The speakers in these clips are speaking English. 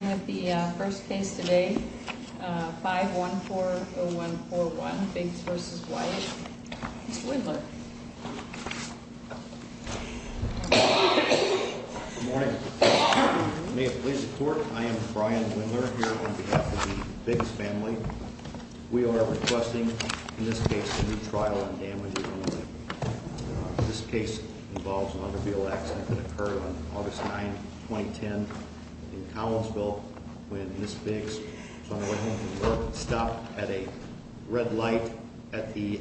We have the first case today, 514-0141 Biggs v. Wyatt. Mr. Wendler. Good morning. May it please the court, I am Brian Wendler here on behalf of the Biggs family. We are requesting in this case a new trial on damages. This case involves an automobile accident that occurred on August 9, 2010 in Collinsville when Ms. Biggs stopped at a red light at the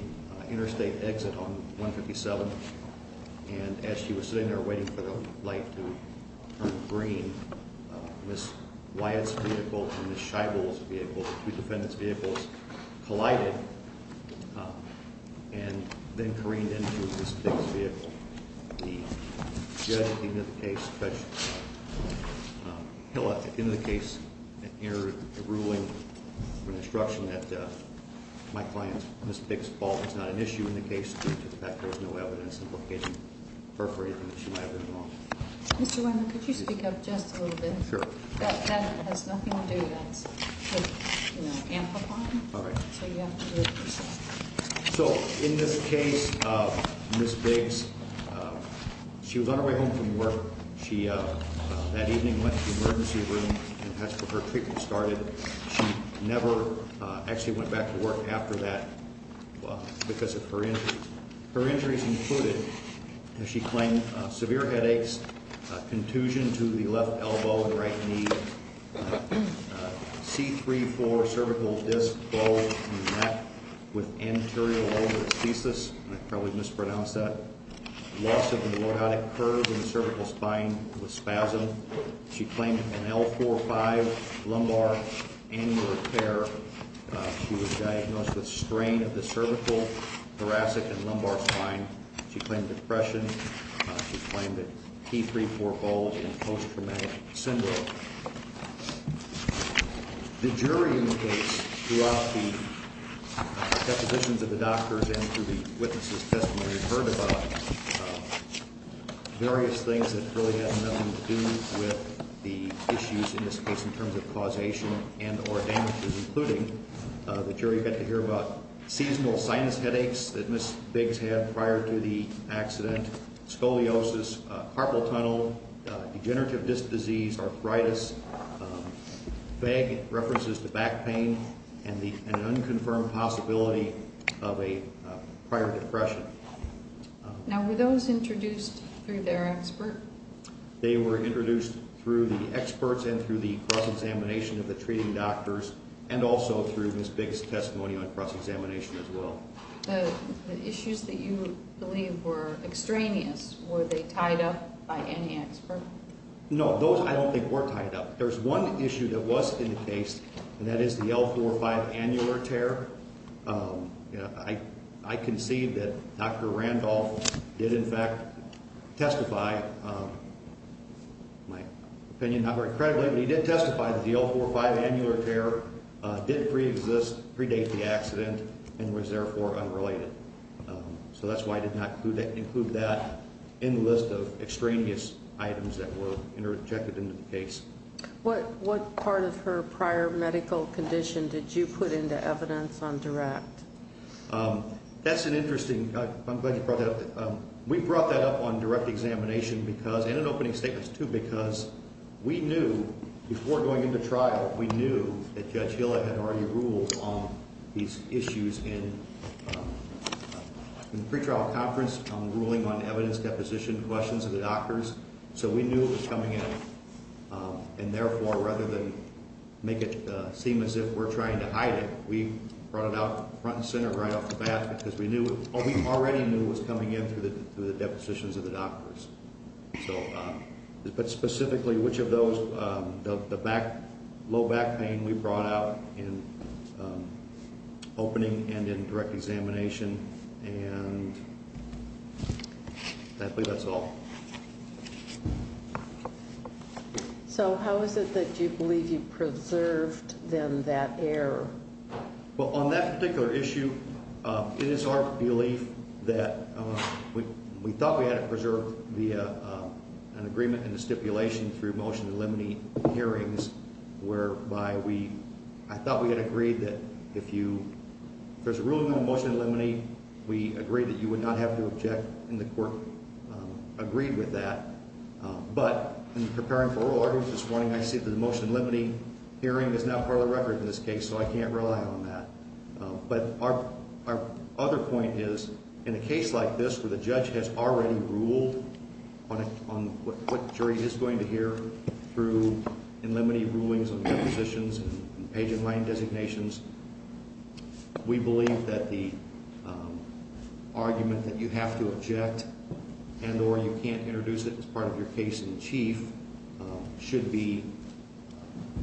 interstate exit on 157. And as she was sitting there waiting for the light to turn green, Ms. Wyatt's vehicle and Ms. Scheibel's vehicle, the two defendants' vehicles, collided. And then careened into Ms. Biggs' vehicle. The judge in the case, Judge Hiller, in the case, entered a ruling or instruction that my client, Ms. Biggs' fault is not an issue in the case due to the fact that there is no evidence implicating her for anything that she might have done wrong. Mr. Wendler, could you speak up just a little bit? Sure. That has nothing to do with amplifying. All right. So you have to do it yourself. So in this case, Ms. Biggs, she was on her way home from work. She, that evening, went to the emergency room and that's where her treatment started. She never actually went back to work after that because of her injuries. Her injuries included, as she claimed, severe headaches, contusion to the left elbow and right knee, C3-4 cervical disc bulge in the neck with anterior lumbar asthesis. I probably mispronounced that. Loss of the logotic curve in the cervical spine with spasm. She claimed an L4-5 lumbar aneurysm repair. She was diagnosed with strain of the cervical, thoracic, and lumbar spine. She claimed depression. She claimed a T3-4 bulge in post-traumatic syndrome. The jury in the case, throughout the exhibitions of the doctors and through the witnesses' testimony, has heard about various things that really have nothing to do with the issues, in this case, in terms of causation and or damages, including the jury got to hear about seasonal sinus headaches that Ms. Biggs had prior to the accident, scoliosis, carpal tunnel, degenerative disc disease, arthritis, vague references to back pain, and an unconfirmed possibility of a prior depression. Now, were those introduced through their expert? They were introduced through the experts and through the cross-examination of the treating doctors and also through Ms. Biggs' testimony on cross-examination as well. The issues that you believe were extraneous, were they tied up by any expert? No, those I don't think were tied up. There's one issue that was in the case, and that is the L4-5 annular tear. I concede that Dr. Randolph did, in fact, testify, my opinion, not very credibly, but he did testify that the L4-5 annular tear did preexist, predate the accident, and was, therefore, unrelated. So that's why I did not include that in the list of extraneous items that were interjected into the case. What part of her prior medical condition did you put into evidence on direct? That's an interesting, I'm glad you brought that up. We brought that up on direct examination because, and in opening statements too, because we knew, before going into trial, we knew that Judge Hill had already ruled on these issues in the pretrial conference, ruling on evidence deposition, questions of the doctors. So we knew it was coming in, and, therefore, rather than make it seem as if we're trying to hide it, we brought it out front and center right off the bat because we knew, or we already knew it was coming in through the depositions of the doctors. So, but specifically, which of those, the back, low back pain we brought out in opening and in direct examination, and I think that's all. So how is it that you believe you preserved, then, that error? Well, on that particular issue, it is our belief that we thought we had it preserved via an agreement and a stipulation through motion to eliminate hearings whereby we, I thought we had agreed that if you, if there's a ruling on motion to eliminate, we agreed that you would not have to object, and the court agreed with that. But in preparing for oral arguments this morning, I see that the motion to eliminate hearing is not part of the record in this case, so I can't rely on that. But our other point is, in a case like this where the judge has already ruled on what the jury is going to hear through unlimited rulings on depositions and page and line designations, we believe that the argument that you have to object and or you can't introduce it as part of your case in chief should be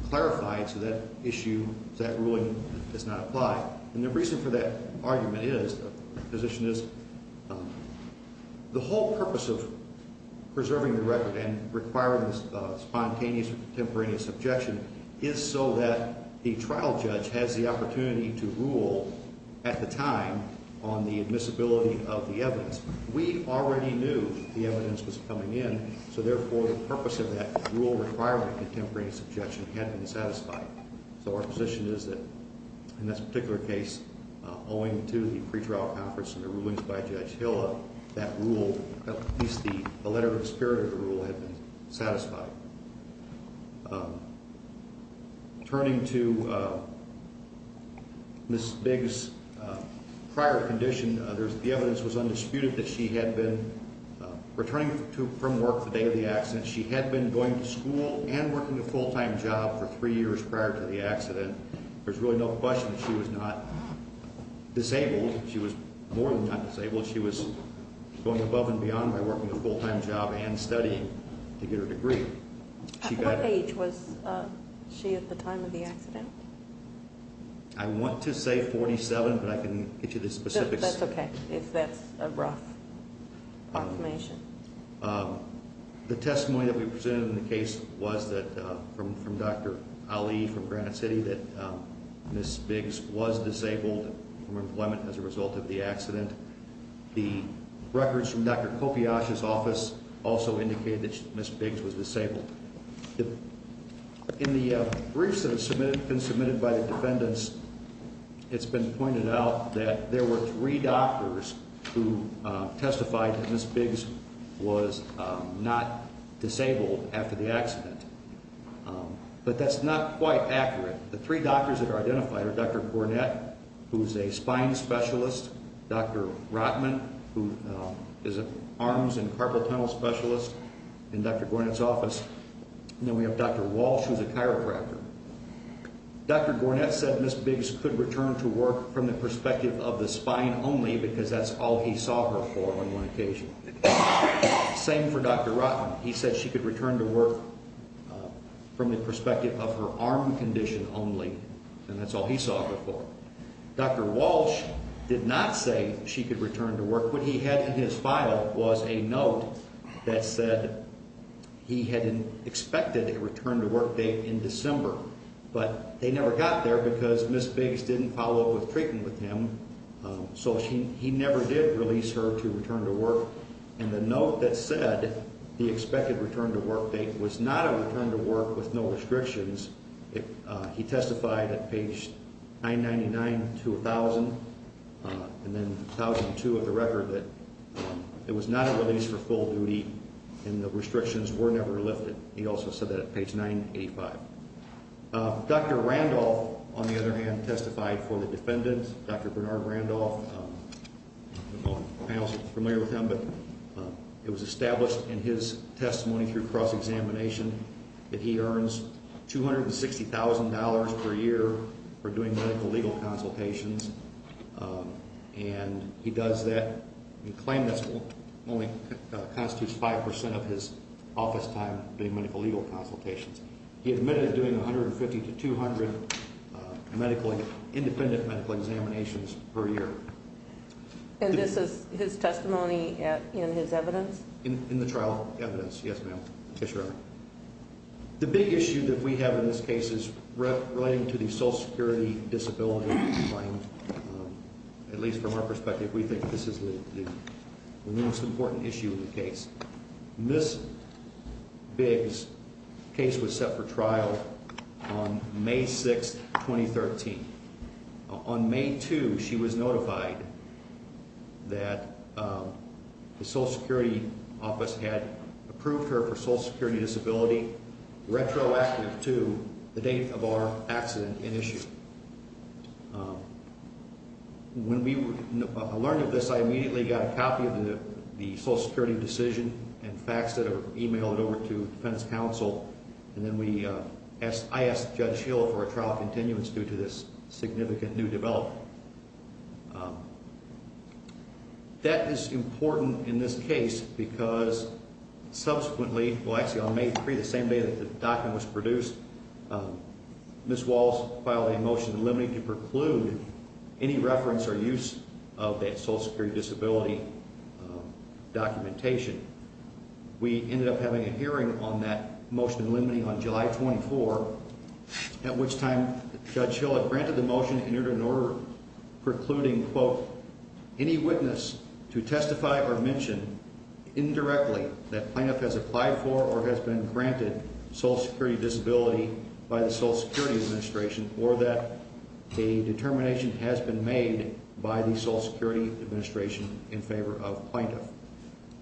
clarified so that issue, that ruling does not apply. And the reason for that argument is, the position is, the whole purpose of preserving the record and requiring this spontaneous or contemporaneous objection is so that the trial judge has the opportunity to rule, at the time, on the admissibility of the evidence. We already knew the evidence was coming in, so therefore the purpose of that rule requirement, the contemporaneous objection, had been satisfied. So our position is that, in this particular case, owing to the pretrial conference and the rulings by Judge Hill, that rule, at least the letter of spirit of the rule, had been satisfied. Turning to Ms. Bigg's prior condition, the evidence was undisputed that she had been returning from work the day of the accident. She had been going to school and working a full-time job for three years prior to the accident. There's really no question that she was not disabled. She was more than not disabled. She was going above and beyond by working a full-time job and studying to get her degree. At what age was she at the time of the accident? I want to say 47, but I can get you the specifics. That's okay, if that's a rough approximation. The testimony that we presented in the case was from Dr. Ali from Granite City, that Ms. Bigg's was disabled from employment as a result of the accident. The records from Dr. Kopiach's office also indicated that Ms. Bigg's was disabled. In the briefs that have been submitted by the defendants, it's been pointed out that there were three doctors who testified that Ms. Bigg's was not disabled after the accident. But that's not quite accurate. The three doctors that are identified are Dr. Gornett, who's a spine specialist, Dr. Rotman, who is an arms and carpal tunnel specialist in Dr. Gornett's office, and then we have Dr. Walsh, who's a chiropractor. Dr. Gornett said Ms. Bigg's could return to work from the perspective of the spine only, because that's all he saw her for on one occasion. Same for Dr. Rotman. He said she could return to work from the perspective of her arm condition only, and that's all he saw her for. Dr. Walsh did not say she could return to work. What he had in his file was a note that said he had expected a return to work date in December, but they never got there because Ms. Bigg's didn't follow up with treatment with him, so he never did release her to return to work. And the note that said the expected return to work date was not a return to work with no restrictions. He testified at page 999 to 1,000, and then 1,002 of the record that it was not a release for full duty and the restrictions were never lifted. He also said that at page 985. Dr. Randolph, on the other hand, testified for the defendant, Dr. Bernard Randolph. The panel is familiar with him, but it was established in his testimony through cross-examination that he earns $260,000 per year for doing medical-legal consultations, and he does that. He claimed that only constitutes 5% of his office time doing medical-legal consultations. He admitted doing 150 to 200 independent medical examinations per year. And this is his testimony in his evidence? In the trial evidence, yes, ma'am. The big issue that we have in this case is relating to the Social Security disability claim. At least from our perspective, we think this is the most important issue in the case. Ms. Bigg's case was set for trial on May 6, 2013. On May 2, she was notified that the Social Security office had approved her for Social Security disability, retroactive to the date of our accident in issue. When we learned of this, I immediately got a copy of the Social Security decision and faxed it or emailed it over to the defense counsel, and then I asked Judge Hill for a trial continuance due to this significant new development. That is important in this case because subsequently, well, actually on May 3, the same day that the document was produced, Ms. Walls filed a motion limiting to preclude any reference or use of that Social Security disability documentation. We ended up having a hearing on that motion limiting on July 24, at which time Judge Hill had granted the motion and entered an order precluding, quote, any witness to testify or mention indirectly that plaintiff has applied for or has been granted Social Security disability by the Social Security administration or that a determination has been made by the Social Security administration in favor of plaintiff.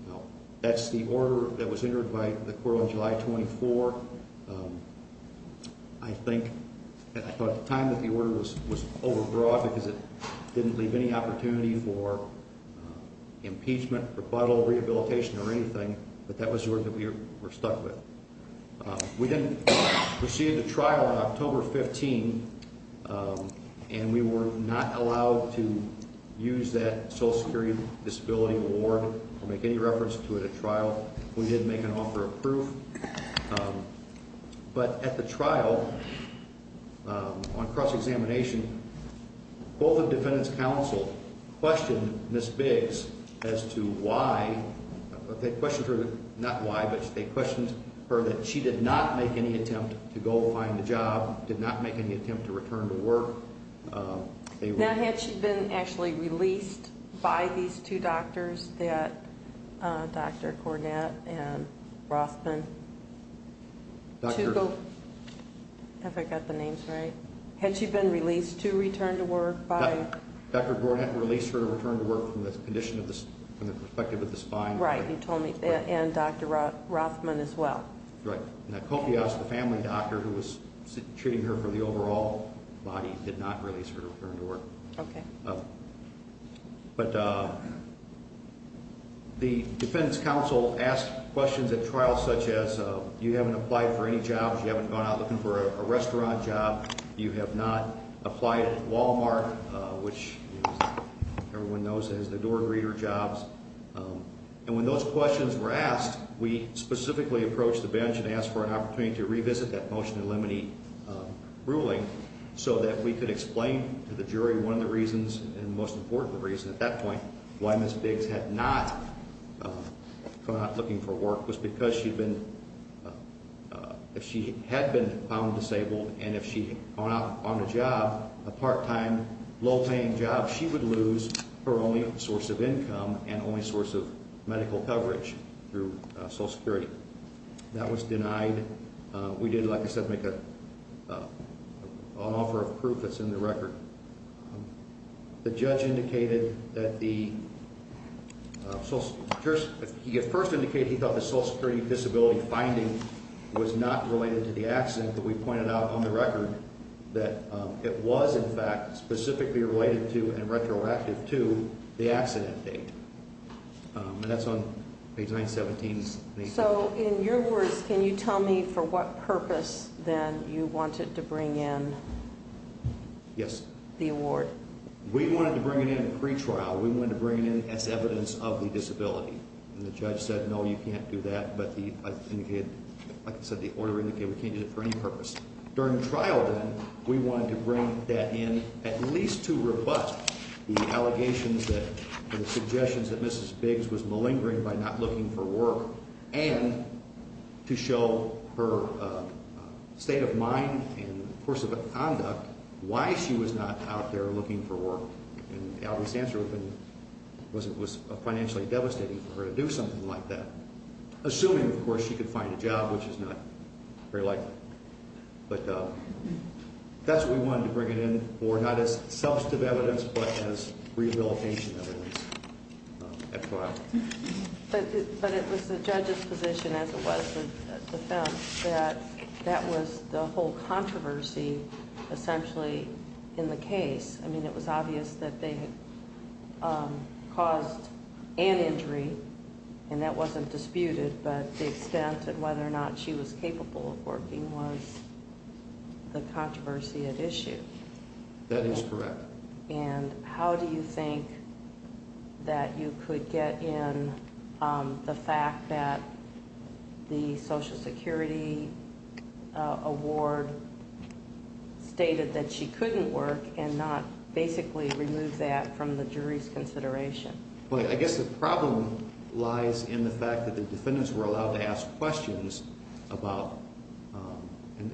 Now, that's the order that was entered by the court on July 24. I think at the time that the order was overbrought because it didn't leave any opportunity for impeachment, rebuttal, rehabilitation or anything, but that was the order that we were stuck with. We then proceeded to trial on October 15, and we were not allowed to use that Social Security disability award or make any reference to it at trial. We did make an offer of proof, but at the trial on cross-examination, both the defendants' counsel questioned Ms. Biggs as to why. They questioned her, not why, but they questioned her that she did not make any attempt to go find a job, did not make any attempt to return to work. Now, had she been actually released by these two doctors, Dr. Cornett and Rothman? Have I got the names right? Had she been released to return to work by? Dr. Cornett released her to return to work from the perspective of the spine. Right, you told me, and Dr. Rothman as well. Right. Now, Copias, the family doctor who was treating her for the overall body, did not release her to return to work. Okay. But the defendants' counsel asked questions at trial such as, you haven't applied for any jobs, you haven't gone out looking for a restaurant job, you have not applied at Wal-Mart, which everyone knows as the door greeter jobs. And when those questions were asked, we specifically approached the bench and asked for an opportunity to revisit that motion to eliminate ruling so that we could explain to the jury one of the reasons and most important reason at that point why Ms. Biggs had not gone out looking for work was because she had been found disabled, and if she had gone out on a job, a part-time, low-paying job, she would lose her only source of income and only source of medical coverage through Social Security. That was denied. We did, like I said, make an offer of proof that's in the record. The judge indicated that the Social Security – he first indicated he thought the Social Security disability finding was not related to the accident, but we pointed out on the record that it was, in fact, specifically related to and retroactive to the accident date. And that's on page 917. So, in your words, can you tell me for what purpose, then, you wanted to bring in the award? We wanted to bring it in pre-trial. We wanted to bring it in as evidence of the disability. And the judge said, no, you can't do that. Like I said, the order indicated we can't use it for any purpose. During trial, then, we wanted to bring that in at least to rebut the allegations that – the suggestions that Mrs. Biggs was malingering by not looking for work and to show her state of mind and course of conduct why she was not out there looking for work. And the obvious answer was it was financially devastating for her to do something like that, assuming, of course, she could find a job, which is not very likely. But that's what we wanted to bring it in for, not as substantive evidence, but as rehabilitation evidence at trial. But it was the judge's position, as it was the defense, that that was the whole controversy, essentially, in the case. I mean, it was obvious that they had caused an injury, and that wasn't disputed, but the extent of whether or not she was capable of working was the controversy at issue. That is correct. And how do you think that you could get in the fact that the Social Security Award stated that she couldn't work and not basically remove that from the jury's consideration? Well, I guess the problem lies in the fact that the defendants were allowed to ask questions about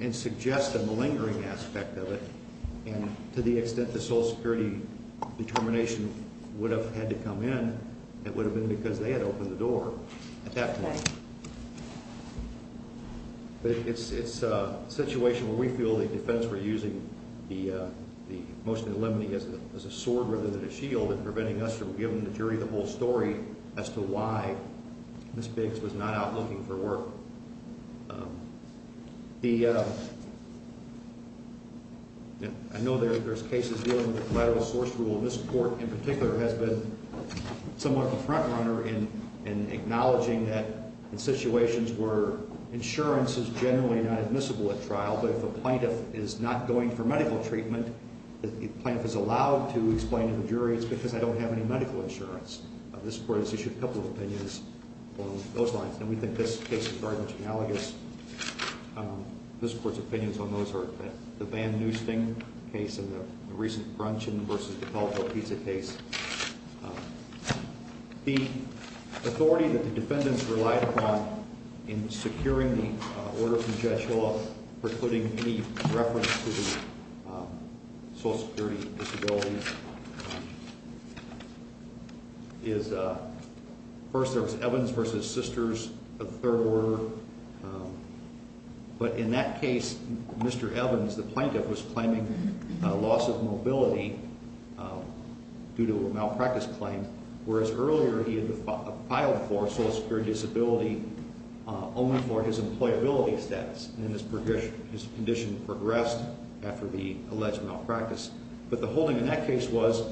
and suggest a malingering aspect of it. And to the extent the Social Security determination would have had to come in, it would have been because they had opened the door at that point. But it's a situation where we feel the defense were using the motion to eliminate as a sword rather than a shield in preventing us from giving the jury the whole story as to why Ms. Biggs was not out looking for work. I know there's cases dealing with collateral source rule, and this court in particular has been somewhat the front runner in acknowledging that in situations where insurance is generally not admissible at trial, but if a plaintiff is not going for medical treatment, if the plaintiff is allowed to explain to the jury it's because I don't have any medical insurance, this court has issued a couple of opinions along those lines. And we think this case is very much analogous. This court's opinions on those are the Van Nuysting case and the recent Brunchen v. DePalato-Pizza case. The authority that the defendants relied upon in securing the order from Judge Hall precluding any reference to the Social Security disability is first there was Evans v. Sisters, a third order. But in that case, Mr. Evans, the plaintiff, was claiming loss of mobility due to a malpractice claim, whereas earlier he had filed for Social Security disability only for his employability status, and his condition progressed after the alleged malpractice. But the holding in that case was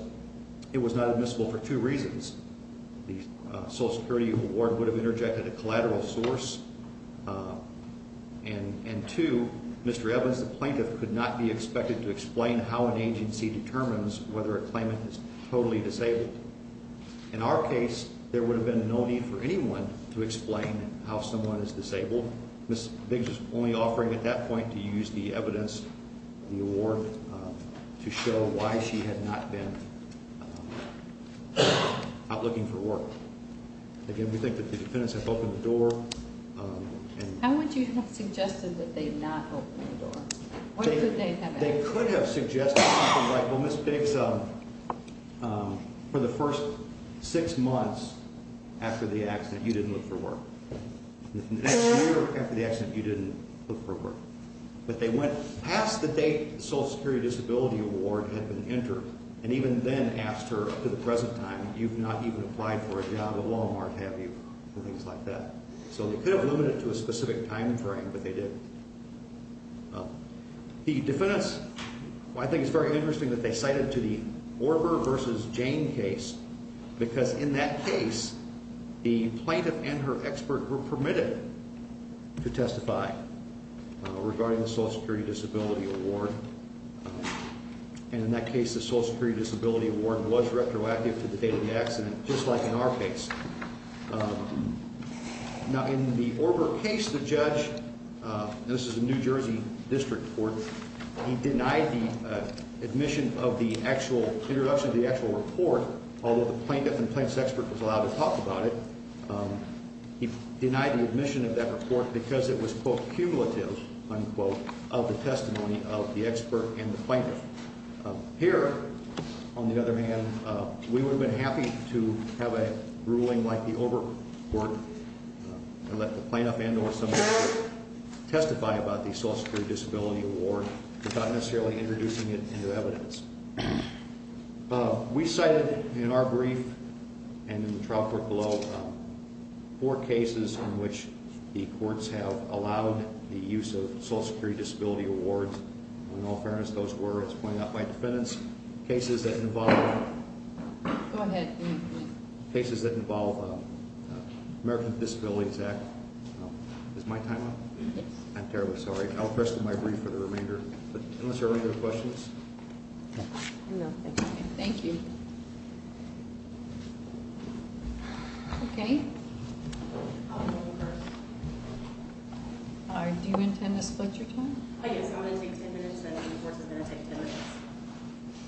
it was not admissible for two reasons. One, the Social Security award would have interjected a collateral source, and two, Mr. Evans, the plaintiff, could not be expected to explain how an agency determines whether a claimant is totally disabled. In our case, there would have been no need for anyone to explain how someone is disabled. Ms. Biggs is only offering at that point to use the evidence, the award, to show why she had not been out looking for work. Again, we think that the defendants have opened the door. How would you have suggested that they had not opened the door? They could have suggested something like, well, Ms. Biggs, for the first six months after the accident you didn't look for work. The next year after the accident you didn't look for work. But they went past the date the Social Security disability award had been entered, and even then asked her, to the present time, you've not even applied for a job at Walmart, have you, and things like that. So they could have limited it to a specific time frame, but they didn't. The defendants, I think it's very interesting that they cited to the Orger versus Jane case, because in that case the plaintiff and her expert were permitted to testify regarding the Social Security disability award. And in that case the Social Security disability award was retroactive to the date of the accident, just like in our case. Now in the Orger case, the judge, and this is a New Jersey district court, he denied the admission of the actual introduction of the actual report, although the plaintiff and the plaintiff's expert was allowed to talk about it, he denied the admission of that report because it was, quote, cumulative, unquote, of the testimony of the expert and the plaintiff. Here, on the other hand, we would have been happy to have a ruling like the Orger court and let the plaintiff and or somebody testify about the Social Security disability award without necessarily introducing it into evidence. We cited, in our brief and in the trial court below, four cases in which the courts have allowed the use of Social Security disability awards. In all fairness, those were, as pointed out by defendants, cases that involve American Disabilities Act. Is my time up? I'm terribly sorry. I'll address my brief for the remainder. Unless there are any other questions? No, thank you. Do you intend to split your time? I guess I'm going to take ten minutes and Mr. Bortz is going to take ten minutes.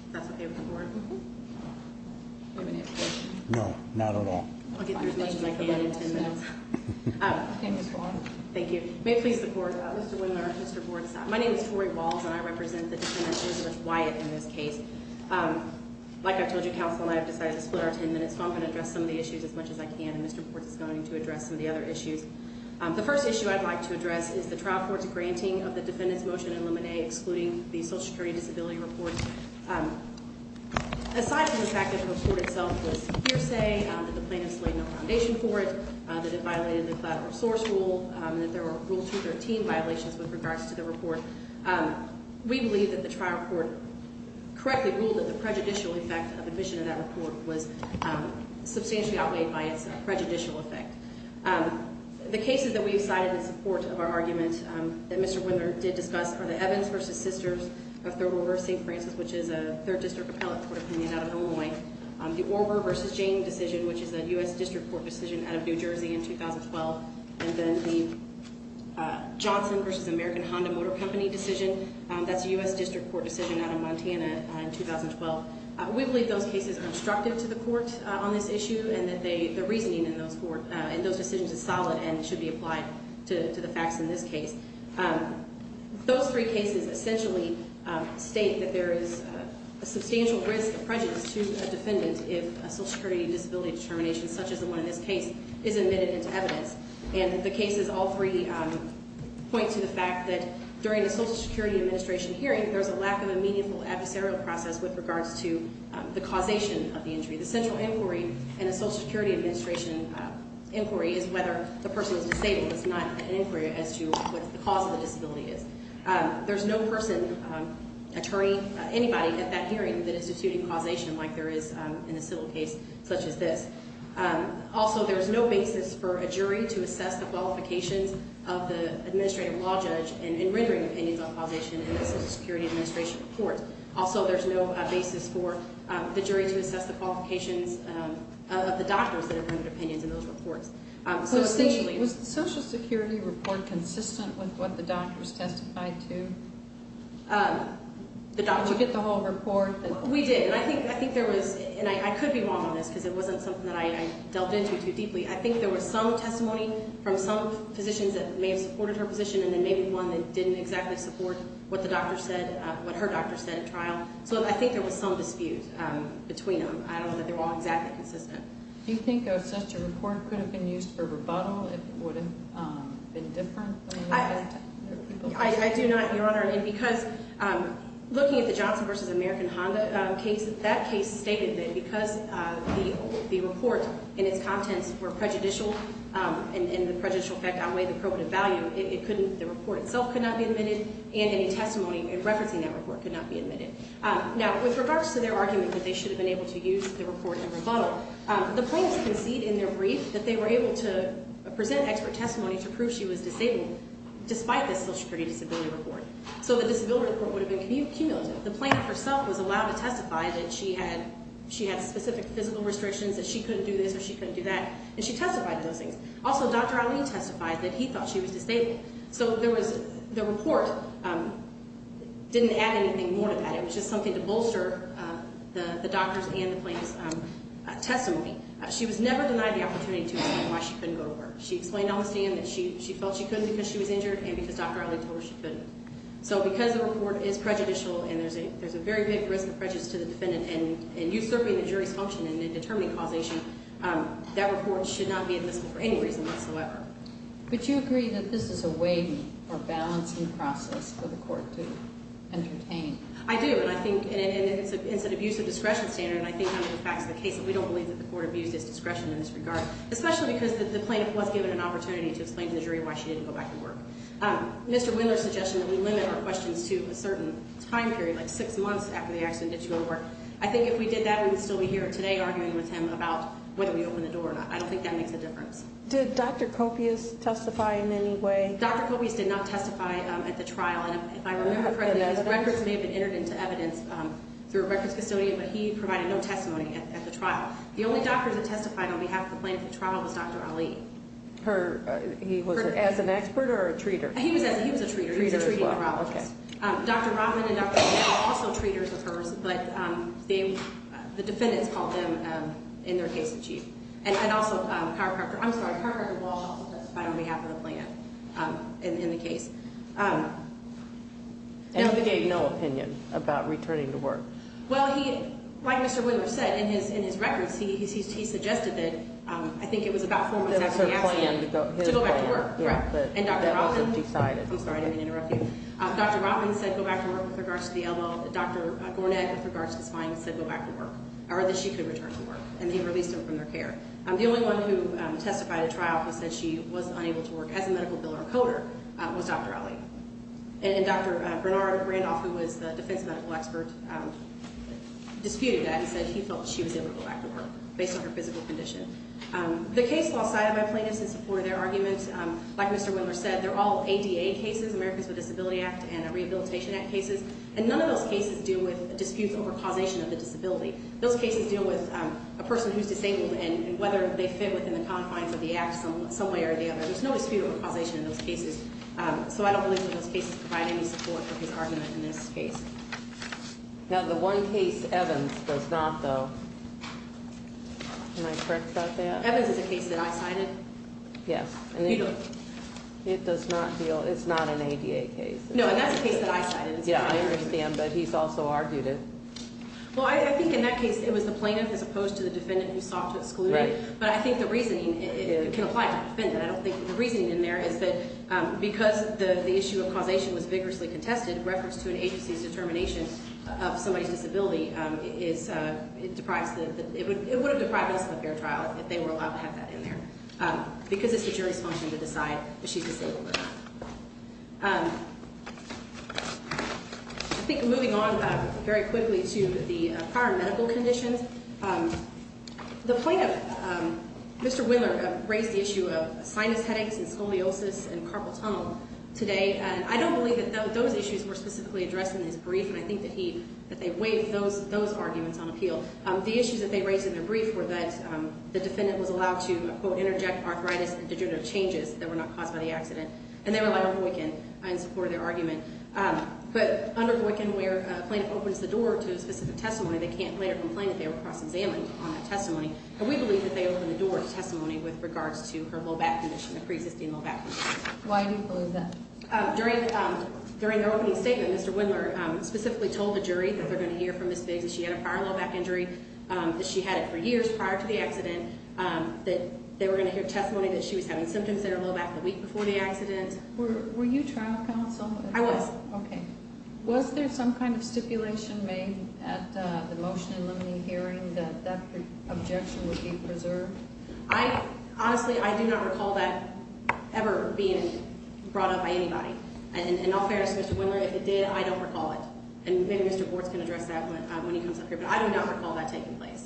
If that's okay with the board. Do you have any other questions? No, not at all. I'll get through as much as I can in ten minutes. Thank you. May it please the court, Mr. Wingler, Mr. Bortz. My name is Tori Walz and I represent the defendant, Elizabeth Wyatt, in this case. Like I told you, counsel and I have decided to split our ten minutes, so I'm going to address some of the issues as much as I can, and Mr. Bortz is going to address some of the other issues. The first issue I'd like to address is the trial court's granting of the defendant's motion in limine excluding the social security disability report. Aside from the fact that the report itself was a hearsay, that the plaintiffs laid no foundation for it, that it violated the collateral source rule, that there were Rule 213 violations with regards to the report, we believe that the trial court correctly ruled that the prejudicial effect of admission in that report was substantially outweighed by its prejudicial effect. The cases that we decided in support of our argument that Mr. Wingler did discuss are the Evans v. Sisters of Third Order of St. Francis, which is a third district appellate court opinion out of Illinois, the Orver v. Jane decision, which is a U.S. district court decision out of New Jersey in 2012, and then the Johnson v. American Honda Motor Company decision. That's a U.S. district court decision out of Montana in 2012. We believe those cases are obstructive to the court on this issue and that the reasoning in those decisions is solid and should be applied to the facts in this case. Those three cases essentially state that there is a substantial risk of prejudice to a defendant if a social security disability determination such as the one in this case is admitted into evidence. And the cases, all three, point to the fact that during a social security administration hearing, there's a lack of a meaningful adversarial process with regards to the causation of the injury. The central inquiry in a social security administration inquiry is whether the person is disabled. It's not an inquiry as to what the cause of the disability is. There's no person, attorney, anybody at that hearing that is disputing causation like there is in a civil case such as this. Also, there is no basis for a jury to assess the qualifications of the administrative law judge in rendering opinions on causation in a social security administration court. Also, there's no basis for the jury to assess the qualifications of the doctors that have rendered opinions in those reports. Was the social security report consistent with what the doctors testified to? Did you get the whole report? We did, and I think there was, and I could be wrong on this because it wasn't something that I delved into too deeply. I think there was some testimony from some physicians that may have supported her position and then maybe one that didn't exactly support what the doctor said, what her doctor said at trial. So I think there was some dispute between them. I don't know that they were all exactly consistent. Do you think such a report could have been used for rebuttal if it would have been different? I do not, Your Honor, and because looking at the Johnson v. American Honda case, that case stated that because the report and its contents were prejudicial and the prejudicial effect outweighed the probative value, the report itself could not be admitted and any testimony referencing that report could not be admitted. Now, with regards to their argument that they should have been able to use the report in rebuttal, the plaintiffs concede in their brief that they were able to present expert testimony to prove she was disabled despite the social security disability report. So the disability report would have been cumulative. The plaintiff herself was allowed to testify that she had specific physical restrictions, that she couldn't do this or she couldn't do that, and she testified to those things. Also, Dr. Ali testified that he thought she was disabled. So the report didn't add anything more to that. It was just something to bolster the doctor's and the plaintiff's testimony. She was never denied the opportunity to explain why she couldn't go to work. She explained on the stand that she felt she couldn't because she was injured and because Dr. Ali told her she couldn't. So because the report is prejudicial and there's a very big risk of prejudice to the defendant and usurping the jury's function and determining causation, that report should not be admissible for any reason whatsoever. But you agree that this is a weighing or balancing process for the court to entertain. I do, and it's an abuse of discretion standard, and I think under the facts of the case that we don't believe that the court abused its discretion in this regard, especially because the plaintiff was given an opportunity to explain to the jury why she didn't go back to work. Mr. Wendler's suggestion that we limit our questions to a certain time period, like six months after the accident that she went to work, I think if we did that we would still be here today arguing with him about whether we open the door or not. I don't think that makes a difference. Did Dr. Coppius testify in any way? Dr. Coppius did not testify at the trial. If I remember correctly, his records may have been entered into evidence through a records custodian, but he provided no testimony at the trial. The only doctor that testified on behalf of the plaintiff at the trial was Dr. Ali. He was an expert or a treater? He was a treater. He was a treat neurologist. Okay. Dr. Rodman and Dr. O'Dell are also treaters of hers, but the defendants called them in their case of chief. And also, I'm sorry, the chiropractor did not testify on behalf of the plaintiff in the case. And he gave no opinion about returning to work? Well, like Mr. Wendler said in his records, he suggested that I think it was about four months after the accident. To go back to work, correct. I'm sorry, I didn't mean to interrupt you. Dr. Rodman said go back to work with regards to the elbow. Dr. Gornett, with regards to spines, said go back to work, or that she could return to work. And they released her from their care. The only one who testified at trial who said she was unable to work as a medical biller or coder was Dr. Ali. And Dr. Bernard Randolph, who was the defense medical expert, disputed that and said he felt she was able to go back to work based on her physical condition. The case was sided by plaintiffs in support of their arguments. Like Mr. Wendler said, they're all ADA cases, Americans with Disabilities Act and Rehabilitation Act cases. And none of those cases deal with disputes over causation of the disability. Those cases deal with a person who's disabled and whether they fit within the confines of the act some way or the other. There's no dispute over causation in those cases. So I don't believe that those cases provide any support for his argument in this case. Now, the one case Evans does not, though. Am I correct about that? Evans is a case that I sided. Yes. It does not deal ñ it's not an ADA case. No, and that's a case that I sided. Yeah, I understand. But he's also argued it. Well, I think in that case it was the plaintiff as opposed to the defendant who sought to exclude it. Right. But I think the reasoning can apply to the defendant. I don't think the reasoning in there is that because the issue of causation was vigorously contested, in reference to an agency's determination of somebody's disability, it would have deprived us of a fair trial if they were allowed to have that in there, because it's the jury's function to decide if she's disabled or not. I think moving on very quickly to the prior medical conditions, the plaintiff, Mr. Wendler, raised the issue of sinus headaches and scoliosis and carpal tunnel today. And I don't believe that those issues were specifically addressed in his brief, and I think that he ñ that they waived those arguments on appeal. The issues that they raised in their brief were that the defendant was allowed to, quote, interject arthritis and degenerative changes that were not caused by the accident, and they were allowed on the weekend in support of their argument. But under the weekend where a plaintiff opens the door to a specific testimony, they can't later complain that they were cross-examined on that testimony. And we believe that they opened the door to testimony with regards to her low back condition, a preexisting low back condition. Why do you believe that? During their opening statement, Mr. Wendler specifically told the jury that they're going to hear from Ms. Biggs that she had a prior low back injury, that she had it for years prior to the accident, that they were going to hear testimony that she was having symptoms in her low back the week before the accident. Were you trial counsel? I was. Okay. Was there some kind of stipulation made at the motion-eliminating hearing that that objection would be preserved? Honestly, I do not recall that ever being brought up by anybody. And in all fairness to Mr. Wendler, if it did, I don't recall it. And maybe Mr. Bortz can address that when he comes up here. But I do not recall that taking place.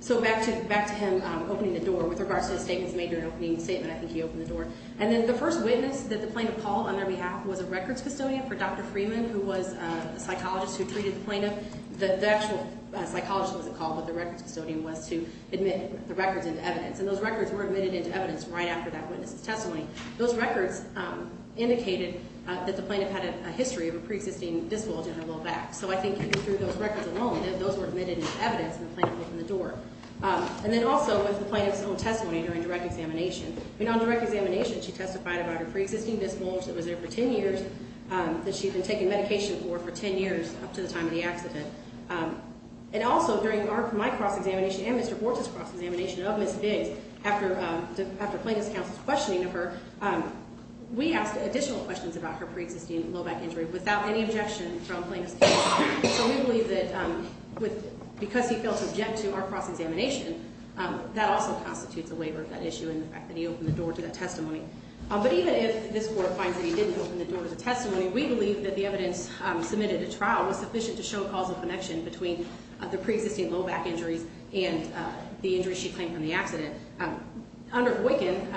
So back to him opening the door with regards to his statement, his major opening statement, I think he opened the door. And then the first witness that the plaintiff called on their behalf was a records custodian for Dr. Freeman, who was a psychologist who treated the plaintiff. The actual psychologist wasn't called, but the records custodian was to admit the records into evidence. And those records were admitted into evidence right after that witness's testimony. Those records indicated that the plaintiff had a history of a preexisting disc bulge in her low back. So I think through those records alone, those were admitted into evidence, and the plaintiff opened the door. And then also with the plaintiff's own testimony during direct examination. I mean, on direct examination, she testified about her preexisting disc bulge that was there for ten years, that she had been taking medication for for ten years up to the time of the accident. And also during my cross-examination and Mr. Bortz's cross-examination of Ms. Biggs, after plaintiff's counsel's questioning of her, we asked additional questions about her preexisting low back injury without any objection from plaintiff's counsel. So we believe that because he failed to object to our cross-examination, that also constitutes a waiver, that issue and the fact that he opened the door to that testimony. But even if this Court finds that he didn't open the door to the testimony, we believe that the evidence submitted at trial was sufficient to show causal connection between the preexisting low back injuries and the injuries she claimed from the accident. Under Boykin,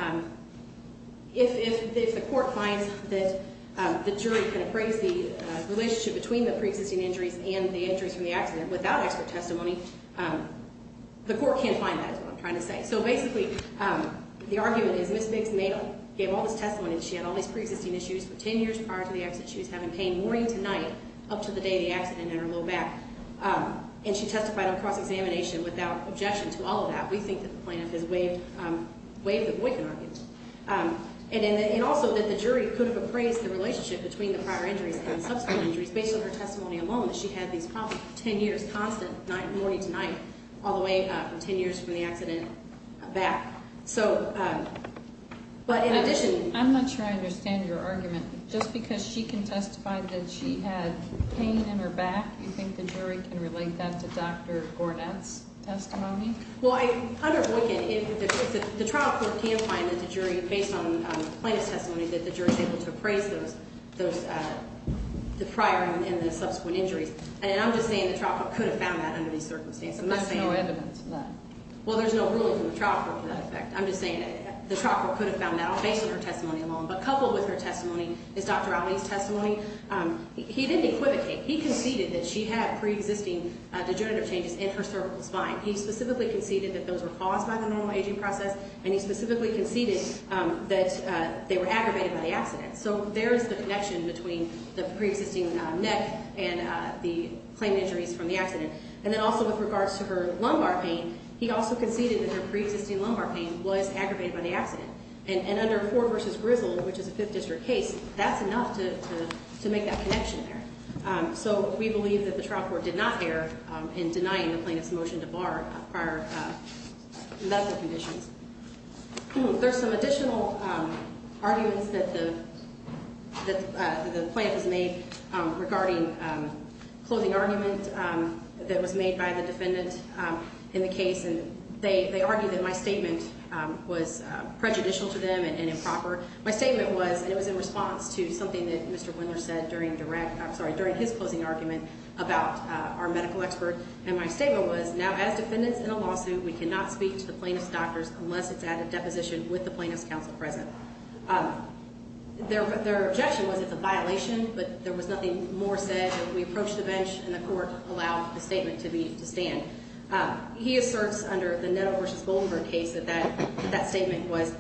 if the Court finds that the jury can appraise the relationship between the preexisting injuries and the injuries from the accident without expert testimony, the Court can't find that, is what I'm trying to say. So basically, the argument is Ms. Biggs gave all this testimony and she had all these preexisting issues for ten years prior to the accident. She was having pain morning to night up to the day of the accident in her low back. And she testified on cross-examination without objection to all of that. We think that the plaintiff has waived the Boykin argument. And also that the jury could have appraised the relationship between the prior injuries and the subsequent injuries based on her testimony alone, that she had these ten years, which is a constant, morning to night, all the way from ten years from the accident back. So, but in addition... I'm not sure I understand your argument. Just because she can testify that she had pain in her back, you think the jury can relate that to Dr. Gornet's testimony? Well, under Boykin, if the trial court can find that the jury, based on the plaintiff's testimony, that the jury is able to appraise the prior and the subsequent injuries, and I'm just saying the trial court could have found that under these circumstances. But there's no evidence of that. Well, there's no ruling from the trial court to that effect. I'm just saying the trial court could have found that based on her testimony alone. But coupled with her testimony is Dr. Ali's testimony. He didn't equivocate. He conceded that she had preexisting degenerative changes in her cervical spine. He specifically conceded that those were caused by the normal aging process, and he specifically conceded that they were aggravated by the accident. So there's the connection between the preexisting neck and the claim injuries from the accident. And then also with regards to her lumbar pain, he also conceded that her preexisting lumbar pain was aggravated by the accident. And under Ford v. Grizzle, which is a Fifth District case, that's enough to make that connection there. So we believe that the trial court did not err in denying the plaintiff's motion to bar prior medical conditions. There's some additional arguments that the plaintiff has made regarding closing argument that was made by the defendant in the case. And they argued that my statement was prejudicial to them and improper. My statement was, and it was in response to something that Mr. Wendler said during direct ‑‑ I'm sorry, during his closing argument about our medical expert. And my statement was, now, as defendants in a lawsuit, we cannot speak to the plaintiff's doctors unless it's at a deposition with the plaintiff's counsel present. Their objection was it's a violation, but there was nothing more said. We approached the bench, and the court allowed the statement to stand. He asserts under the Netto v. Goldenberg case that that statement was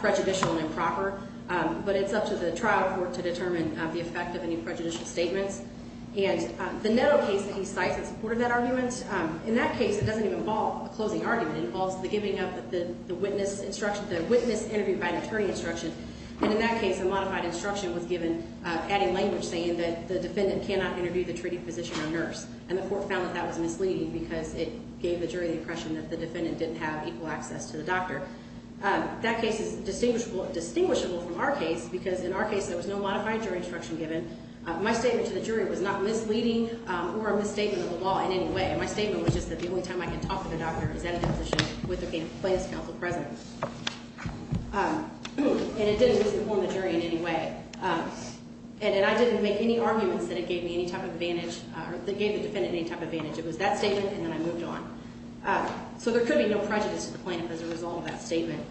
prejudicial and improper. But it's up to the trial court to determine the effect of any prejudicial statements. And the Netto case that he cites in support of that argument, in that case, it doesn't even involve a closing argument. It involves the giving up the witness interview by an attorney instruction. And in that case, a modified instruction was given, adding language saying that the defendant cannot interview the treating physician or nurse. And the court found that that was misleading because it gave the jury the impression that the defendant didn't have equal access to the doctor. That case is distinguishable from our case because in our case, there was no modified jury instruction given. My statement to the jury was not misleading or a misstatement of the law in any way. My statement was just that the only time I can talk to the doctor is at a deposition with the plaintiff's counsel present. And it didn't misinform the jury in any way. And I didn't make any arguments that it gave me any type of advantage or that it gave the defendant any type of advantage. It was that statement, and then I moved on. So there could be no prejudice to the plaintiff as a result of that statement.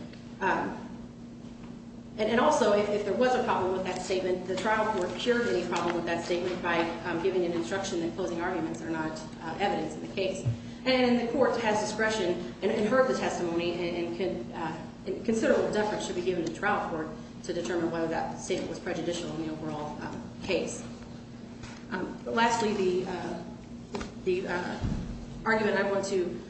And also, if there was a problem with that statement, the trial court cured any problem with that statement by giving an instruction that closing arguments are not evidence in the case. And the court has discretion and heard the testimony and considerable deference should be given to the trial court to determine whether that statement was prejudicial in the overall case. Lastly, the argument I want to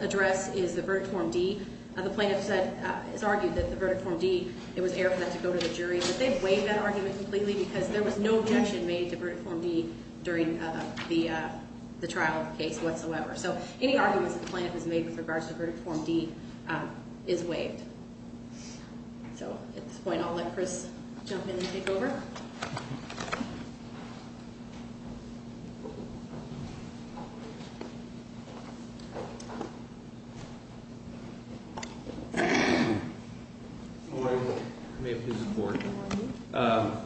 address is the Verdict Form D. The plaintiff has argued that the Verdict Form D, it was air for that to go to the jury. But they've waived that argument completely because there was no objection made to Verdict Form D during the trial case whatsoever. So any arguments that the plaintiff has made with regards to Verdict Form D is waived. So at this point, I'll let Chris jump in and take over. Good morning. May it please the Court. Good morning.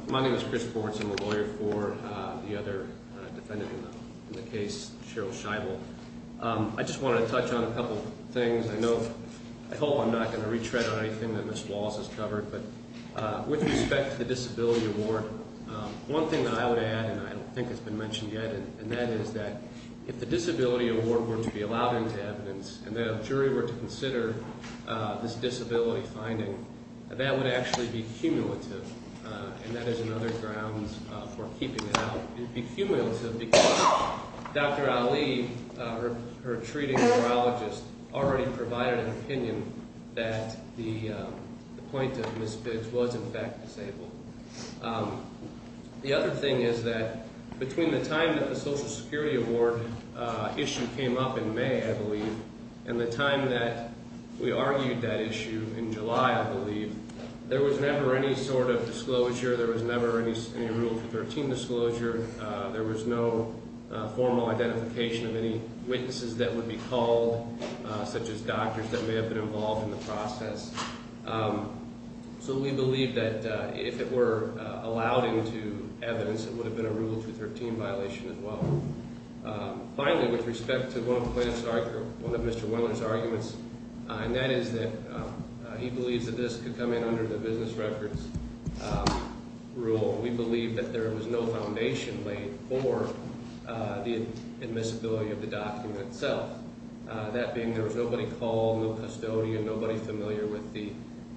My name is Chris Bortz. I'm a lawyer for the other defendant in the case, Cheryl Scheibel. I just want to touch on a couple of things. I know at home I'm not going to retread on anything that Ms. Wallace has covered. But with respect to the Disability Award, one thing that I would add, and I don't think it's been mentioned yet, and that is that if the Disability Award were to be allowed into evidence and that a jury were to consider this disability finding, that would actually be cumulative, and that is another grounds for keeping it out. It would be cumulative because Dr. Ali, her treating neurologist, already provided an opinion that the plaintiff, Ms. Biggs, was in fact disabled. The other thing is that between the time that the Social Security Award issue came up in May, I believe, and the time that we argued that issue in July, I believe, there was never any sort of disclosure. There was never any Rule 213 disclosure. There was no formal identification of any witnesses that would be called, such as doctors that may have been involved in the process. So we believe that if it were allowed into evidence, it would have been a Rule 213 violation as well. Finally, with respect to one of Mr. Weller's arguments, and that is that he believes that this could come in under the business records rule. We believe that there was no foundation laid for the admissibility of the document itself. That being there was nobody called, no custodian, nobody familiar with the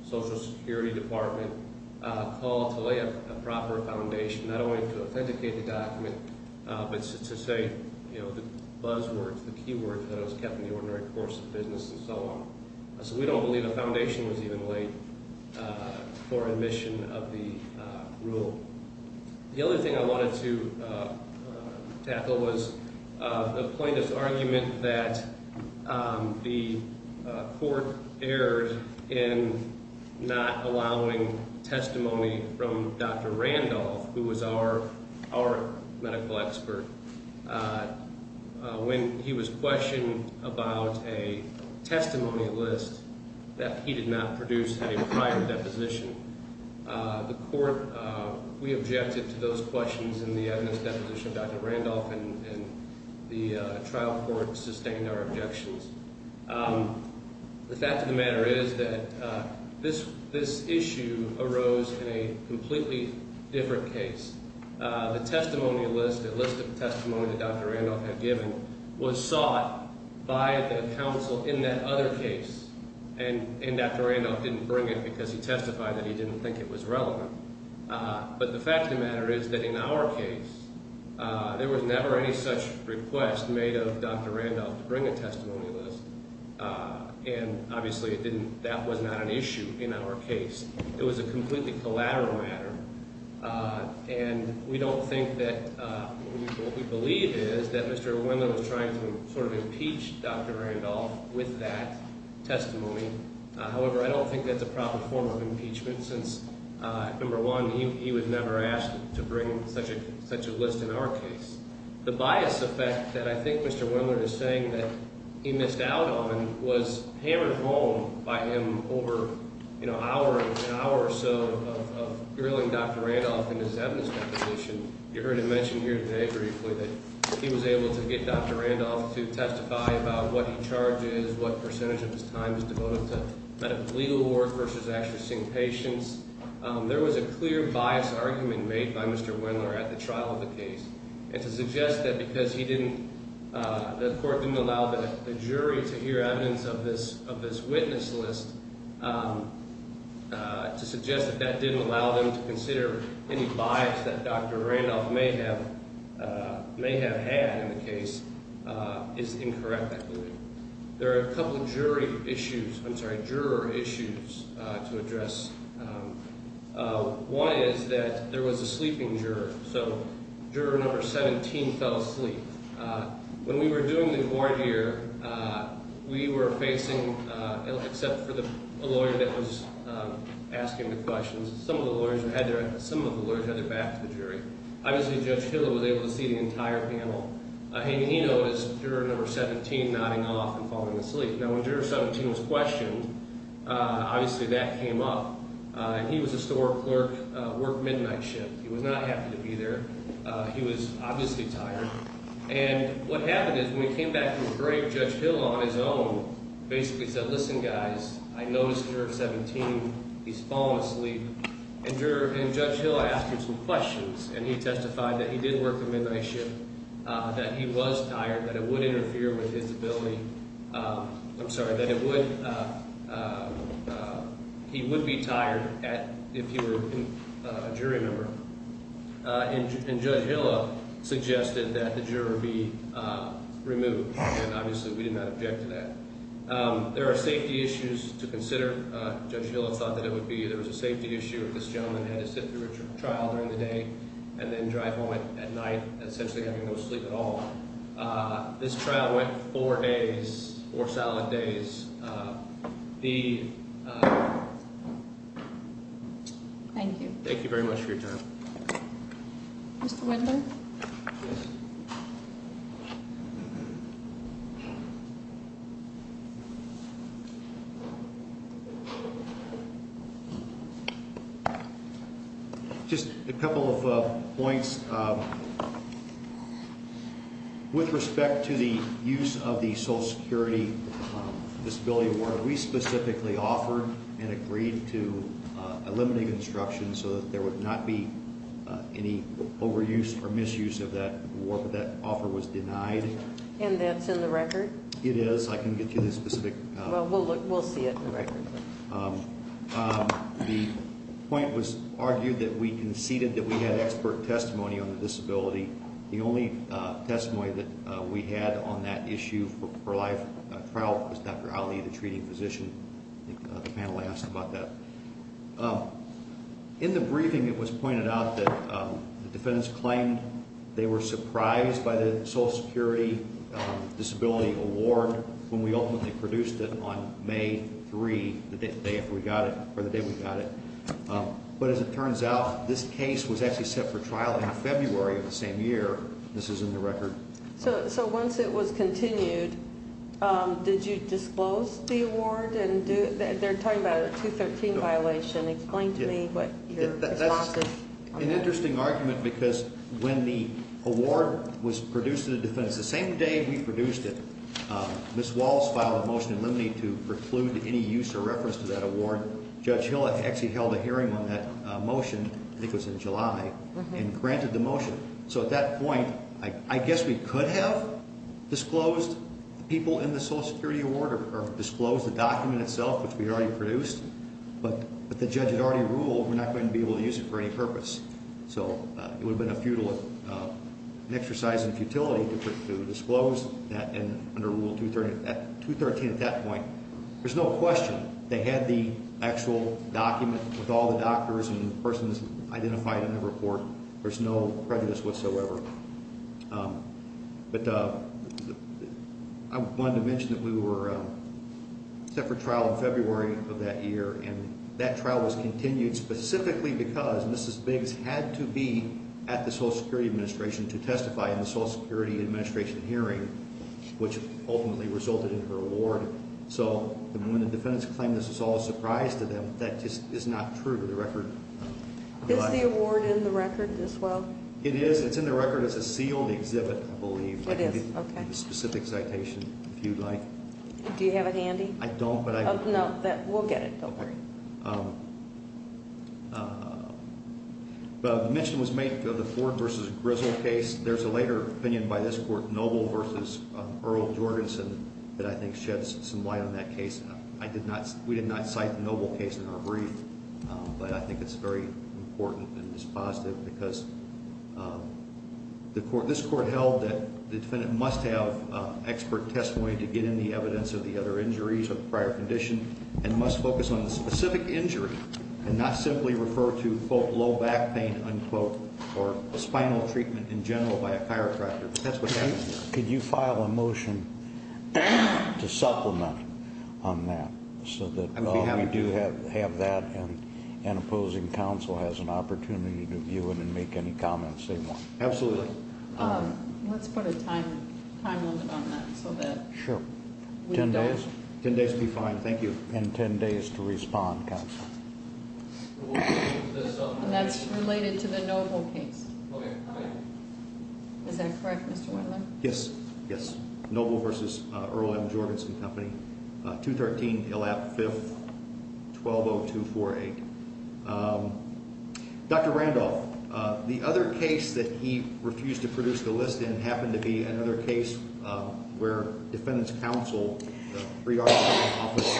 Social Security Department, called to lay a proper foundation, not only to authenticate the document, but to say the buzz words, the key words, that was kept in the ordinary course of business and so on. So we don't believe a foundation was even laid for admission of the rule. The other thing I wanted to tackle was the plaintiff's argument that the court erred in not allowing testimony from Dr. Randolph, who was our medical expert, when he was questioned about a testimony list that he did not produce at a prior deposition. The court, we objected to those questions in the evidence deposition of Dr. Randolph, and the trial court sustained our objections. The fact of the matter is that this issue arose in a completely different case. The testimony list, the list of testimony that Dr. Randolph had given, was sought by the counsel in that other case, and Dr. Randolph didn't bring it because he testified that he didn't think it was relevant. But the fact of the matter is that in our case, there was never any such request made of Dr. Randolph to bring a testimony list, and obviously that was not an issue in our case. It was a completely collateral matter, and we don't think that – what we believe is that Mr. Wendler was trying to sort of impeach Dr. Randolph with that testimony. However, I don't think that's a proper form of impeachment since, number one, he was never asked to bring such a list in our case. The bias effect that I think Mr. Wendler is saying that he missed out on was hammered home by him over an hour or so of grilling Dr. Randolph in his evidence deposition. You heard him mention here today briefly that he was able to get Dr. Randolph to testify about what he charges, what percentage of his time is devoted to medical legal work versus actually seeing patients. There was a clear bias argument made by Mr. Wendler at the trial of the case, and to suggest that because he didn't – the court didn't allow the jury to hear evidence of this witness list, to suggest that that didn't allow them to consider any bias that Dr. Randolph may have had in the case is incorrect, I believe. There are a couple jury issues – I'm sorry, juror issues to address. One is that there was a sleeping juror, so juror number 17 fell asleep. When we were doing the court here, we were facing – except for the lawyer that was asking the questions, some of the lawyers had their back to the jury. Obviously, Judge Hill was able to see the entire panel. And he noticed juror number 17 nodding off and falling asleep. Now, when juror 17 was questioned, obviously that came up. He was a store clerk, worked midnight shift. He was not happy to be there. He was obviously tired. And what happened is when he came back from the break, Judge Hill on his own basically said, listen, guys, I noticed juror 17, he's fallen asleep. And Judge Hill asked him some questions, and he testified that he did work the midnight shift. That he was tired, that it would interfere with his ability – I'm sorry, that it would – he would be tired if he were a jury member. And Judge Hill suggested that the juror be removed, and obviously we did not object to that. There are safety issues to consider. Judge Hill thought that it would be – there was a safety issue if this gentleman had to sit through a trial during the day and then drive home at night essentially having no sleep at all. This trial went four days, four solid days. The – Thank you. Thank you very much for your time. Mr. Wendler? Yes. Just a couple of points. With respect to the use of the Social Security Disability Award, we specifically offered and agreed to eliminate instruction so that there would not be any overuse or misuse of that award, but that offer was denied. And that's in the record? It is. I couldn't get you the specific – Well, we'll look – we'll see it in the record. The point was argued that we conceded that we had expert testimony on the disability. The only testimony that we had on that issue for life trial was Dr. Ali, the treating physician. I think the panel asked about that. In the briefing, it was pointed out that the defendants claimed they were surprised by the Social Security Disability Award when we ultimately produced it on May 3, the day after we got it – or the day we got it. But as it turns out, this case was actually set for trial in February of the same year. This is in the record. So once it was continued, did you disclose the award? They're talking about a 213 violation. Explain to me what your response is. That's an interesting argument because when the award was produced to the defendants the same day we produced it, Ms. Walls filed a motion in limine to preclude any use or reference to that award. Judge Hill actually held a hearing on that motion, I think it was in July, and granted the motion. So at that point, I guess we could have disclosed the people in the Social Security Award or disclosed the document itself, which we already produced, but the judge had already ruled we're not going to be able to use it for any purpose. So it would have been a futile exercise in futility to disclose that under Rule 213 at that point. There's no question. They had the actual document with all the doctors and persons identified in the report. There's no prejudice whatsoever. But I wanted to mention that we were set for trial in February of that year, and that trial was continued specifically because Mrs. Biggs had to be at the Social Security Administration to testify in the Social Security Administration hearing, which ultimately resulted in her award. So when the defendants claim this was all a surprise to them, that just is not true to the record. Is the award in the record as well? It is. It's in the record as a sealed exhibit, I believe. It is, okay. I can give you the specific citation if you'd like. Do you have it handy? I don't, but I can. No, we'll get it. Don't worry. Okay. The mention was made of the Ford v. Grizzle case. There's a later opinion by this Court, Noble v. Earl Jorgensen, that I think sheds some light on that case. We did not cite the Noble case in our brief, but I think it's very important and it's positive because this Court held that the defendant must have expert testimony to get any evidence of the other injuries or the prior condition, and must focus on the specific injury and not simply refer to, quote, low back pain, unquote, or a spinal treatment in general by a chiropractor. That's what happened here. Could you file a motion to supplement on that so that we do have that and an opposing counsel has an opportunity to view it and make any comments they want? Absolutely. Let's put a time limit on that so that we don't Ten days would be fine. Thank you. And ten days to respond, counsel. And that's related to the Noble case. Okay. Is that correct, Mr. Wendler? Yes, yes. Noble v. Earl M. Jorgensen Company, 213 Hill Ave., 5th, 120248. Dr. Randolph, the other case that he refused to produce the list in happened to be another case where defendant's counsel, the pre-arbitration office,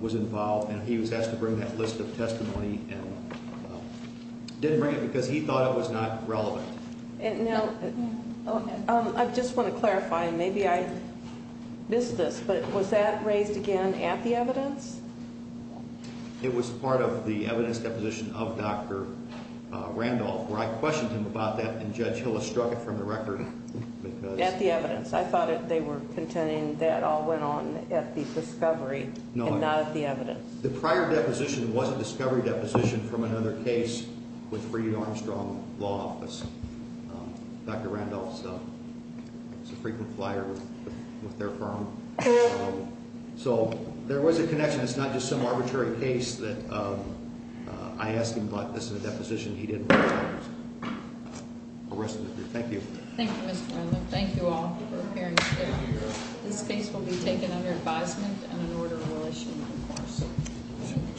was involved and he was asked to bring that list of testimony and didn't bring it because he thought it was not relevant. Now, I just want to clarify, and maybe I missed this, but was that raised again at the evidence? It was part of the evidence deposition of Dr. Randolph where I questioned him about that and Judge Hillis struck it from the record because At the evidence. I thought they were contending that all went on at the discovery and not at the evidence. The prior deposition was a discovery deposition from another case with Reed Armstrong Law Office. Dr. Randolph is a frequent flyer with their firm. So there was a connection. It's not just some arbitrary case that I asked him about this in a deposition. He didn't. Thank you. Thank you, Mr. Randolph. Thank you all for appearing today. This case will be taken under advisement and in order of relation, of course.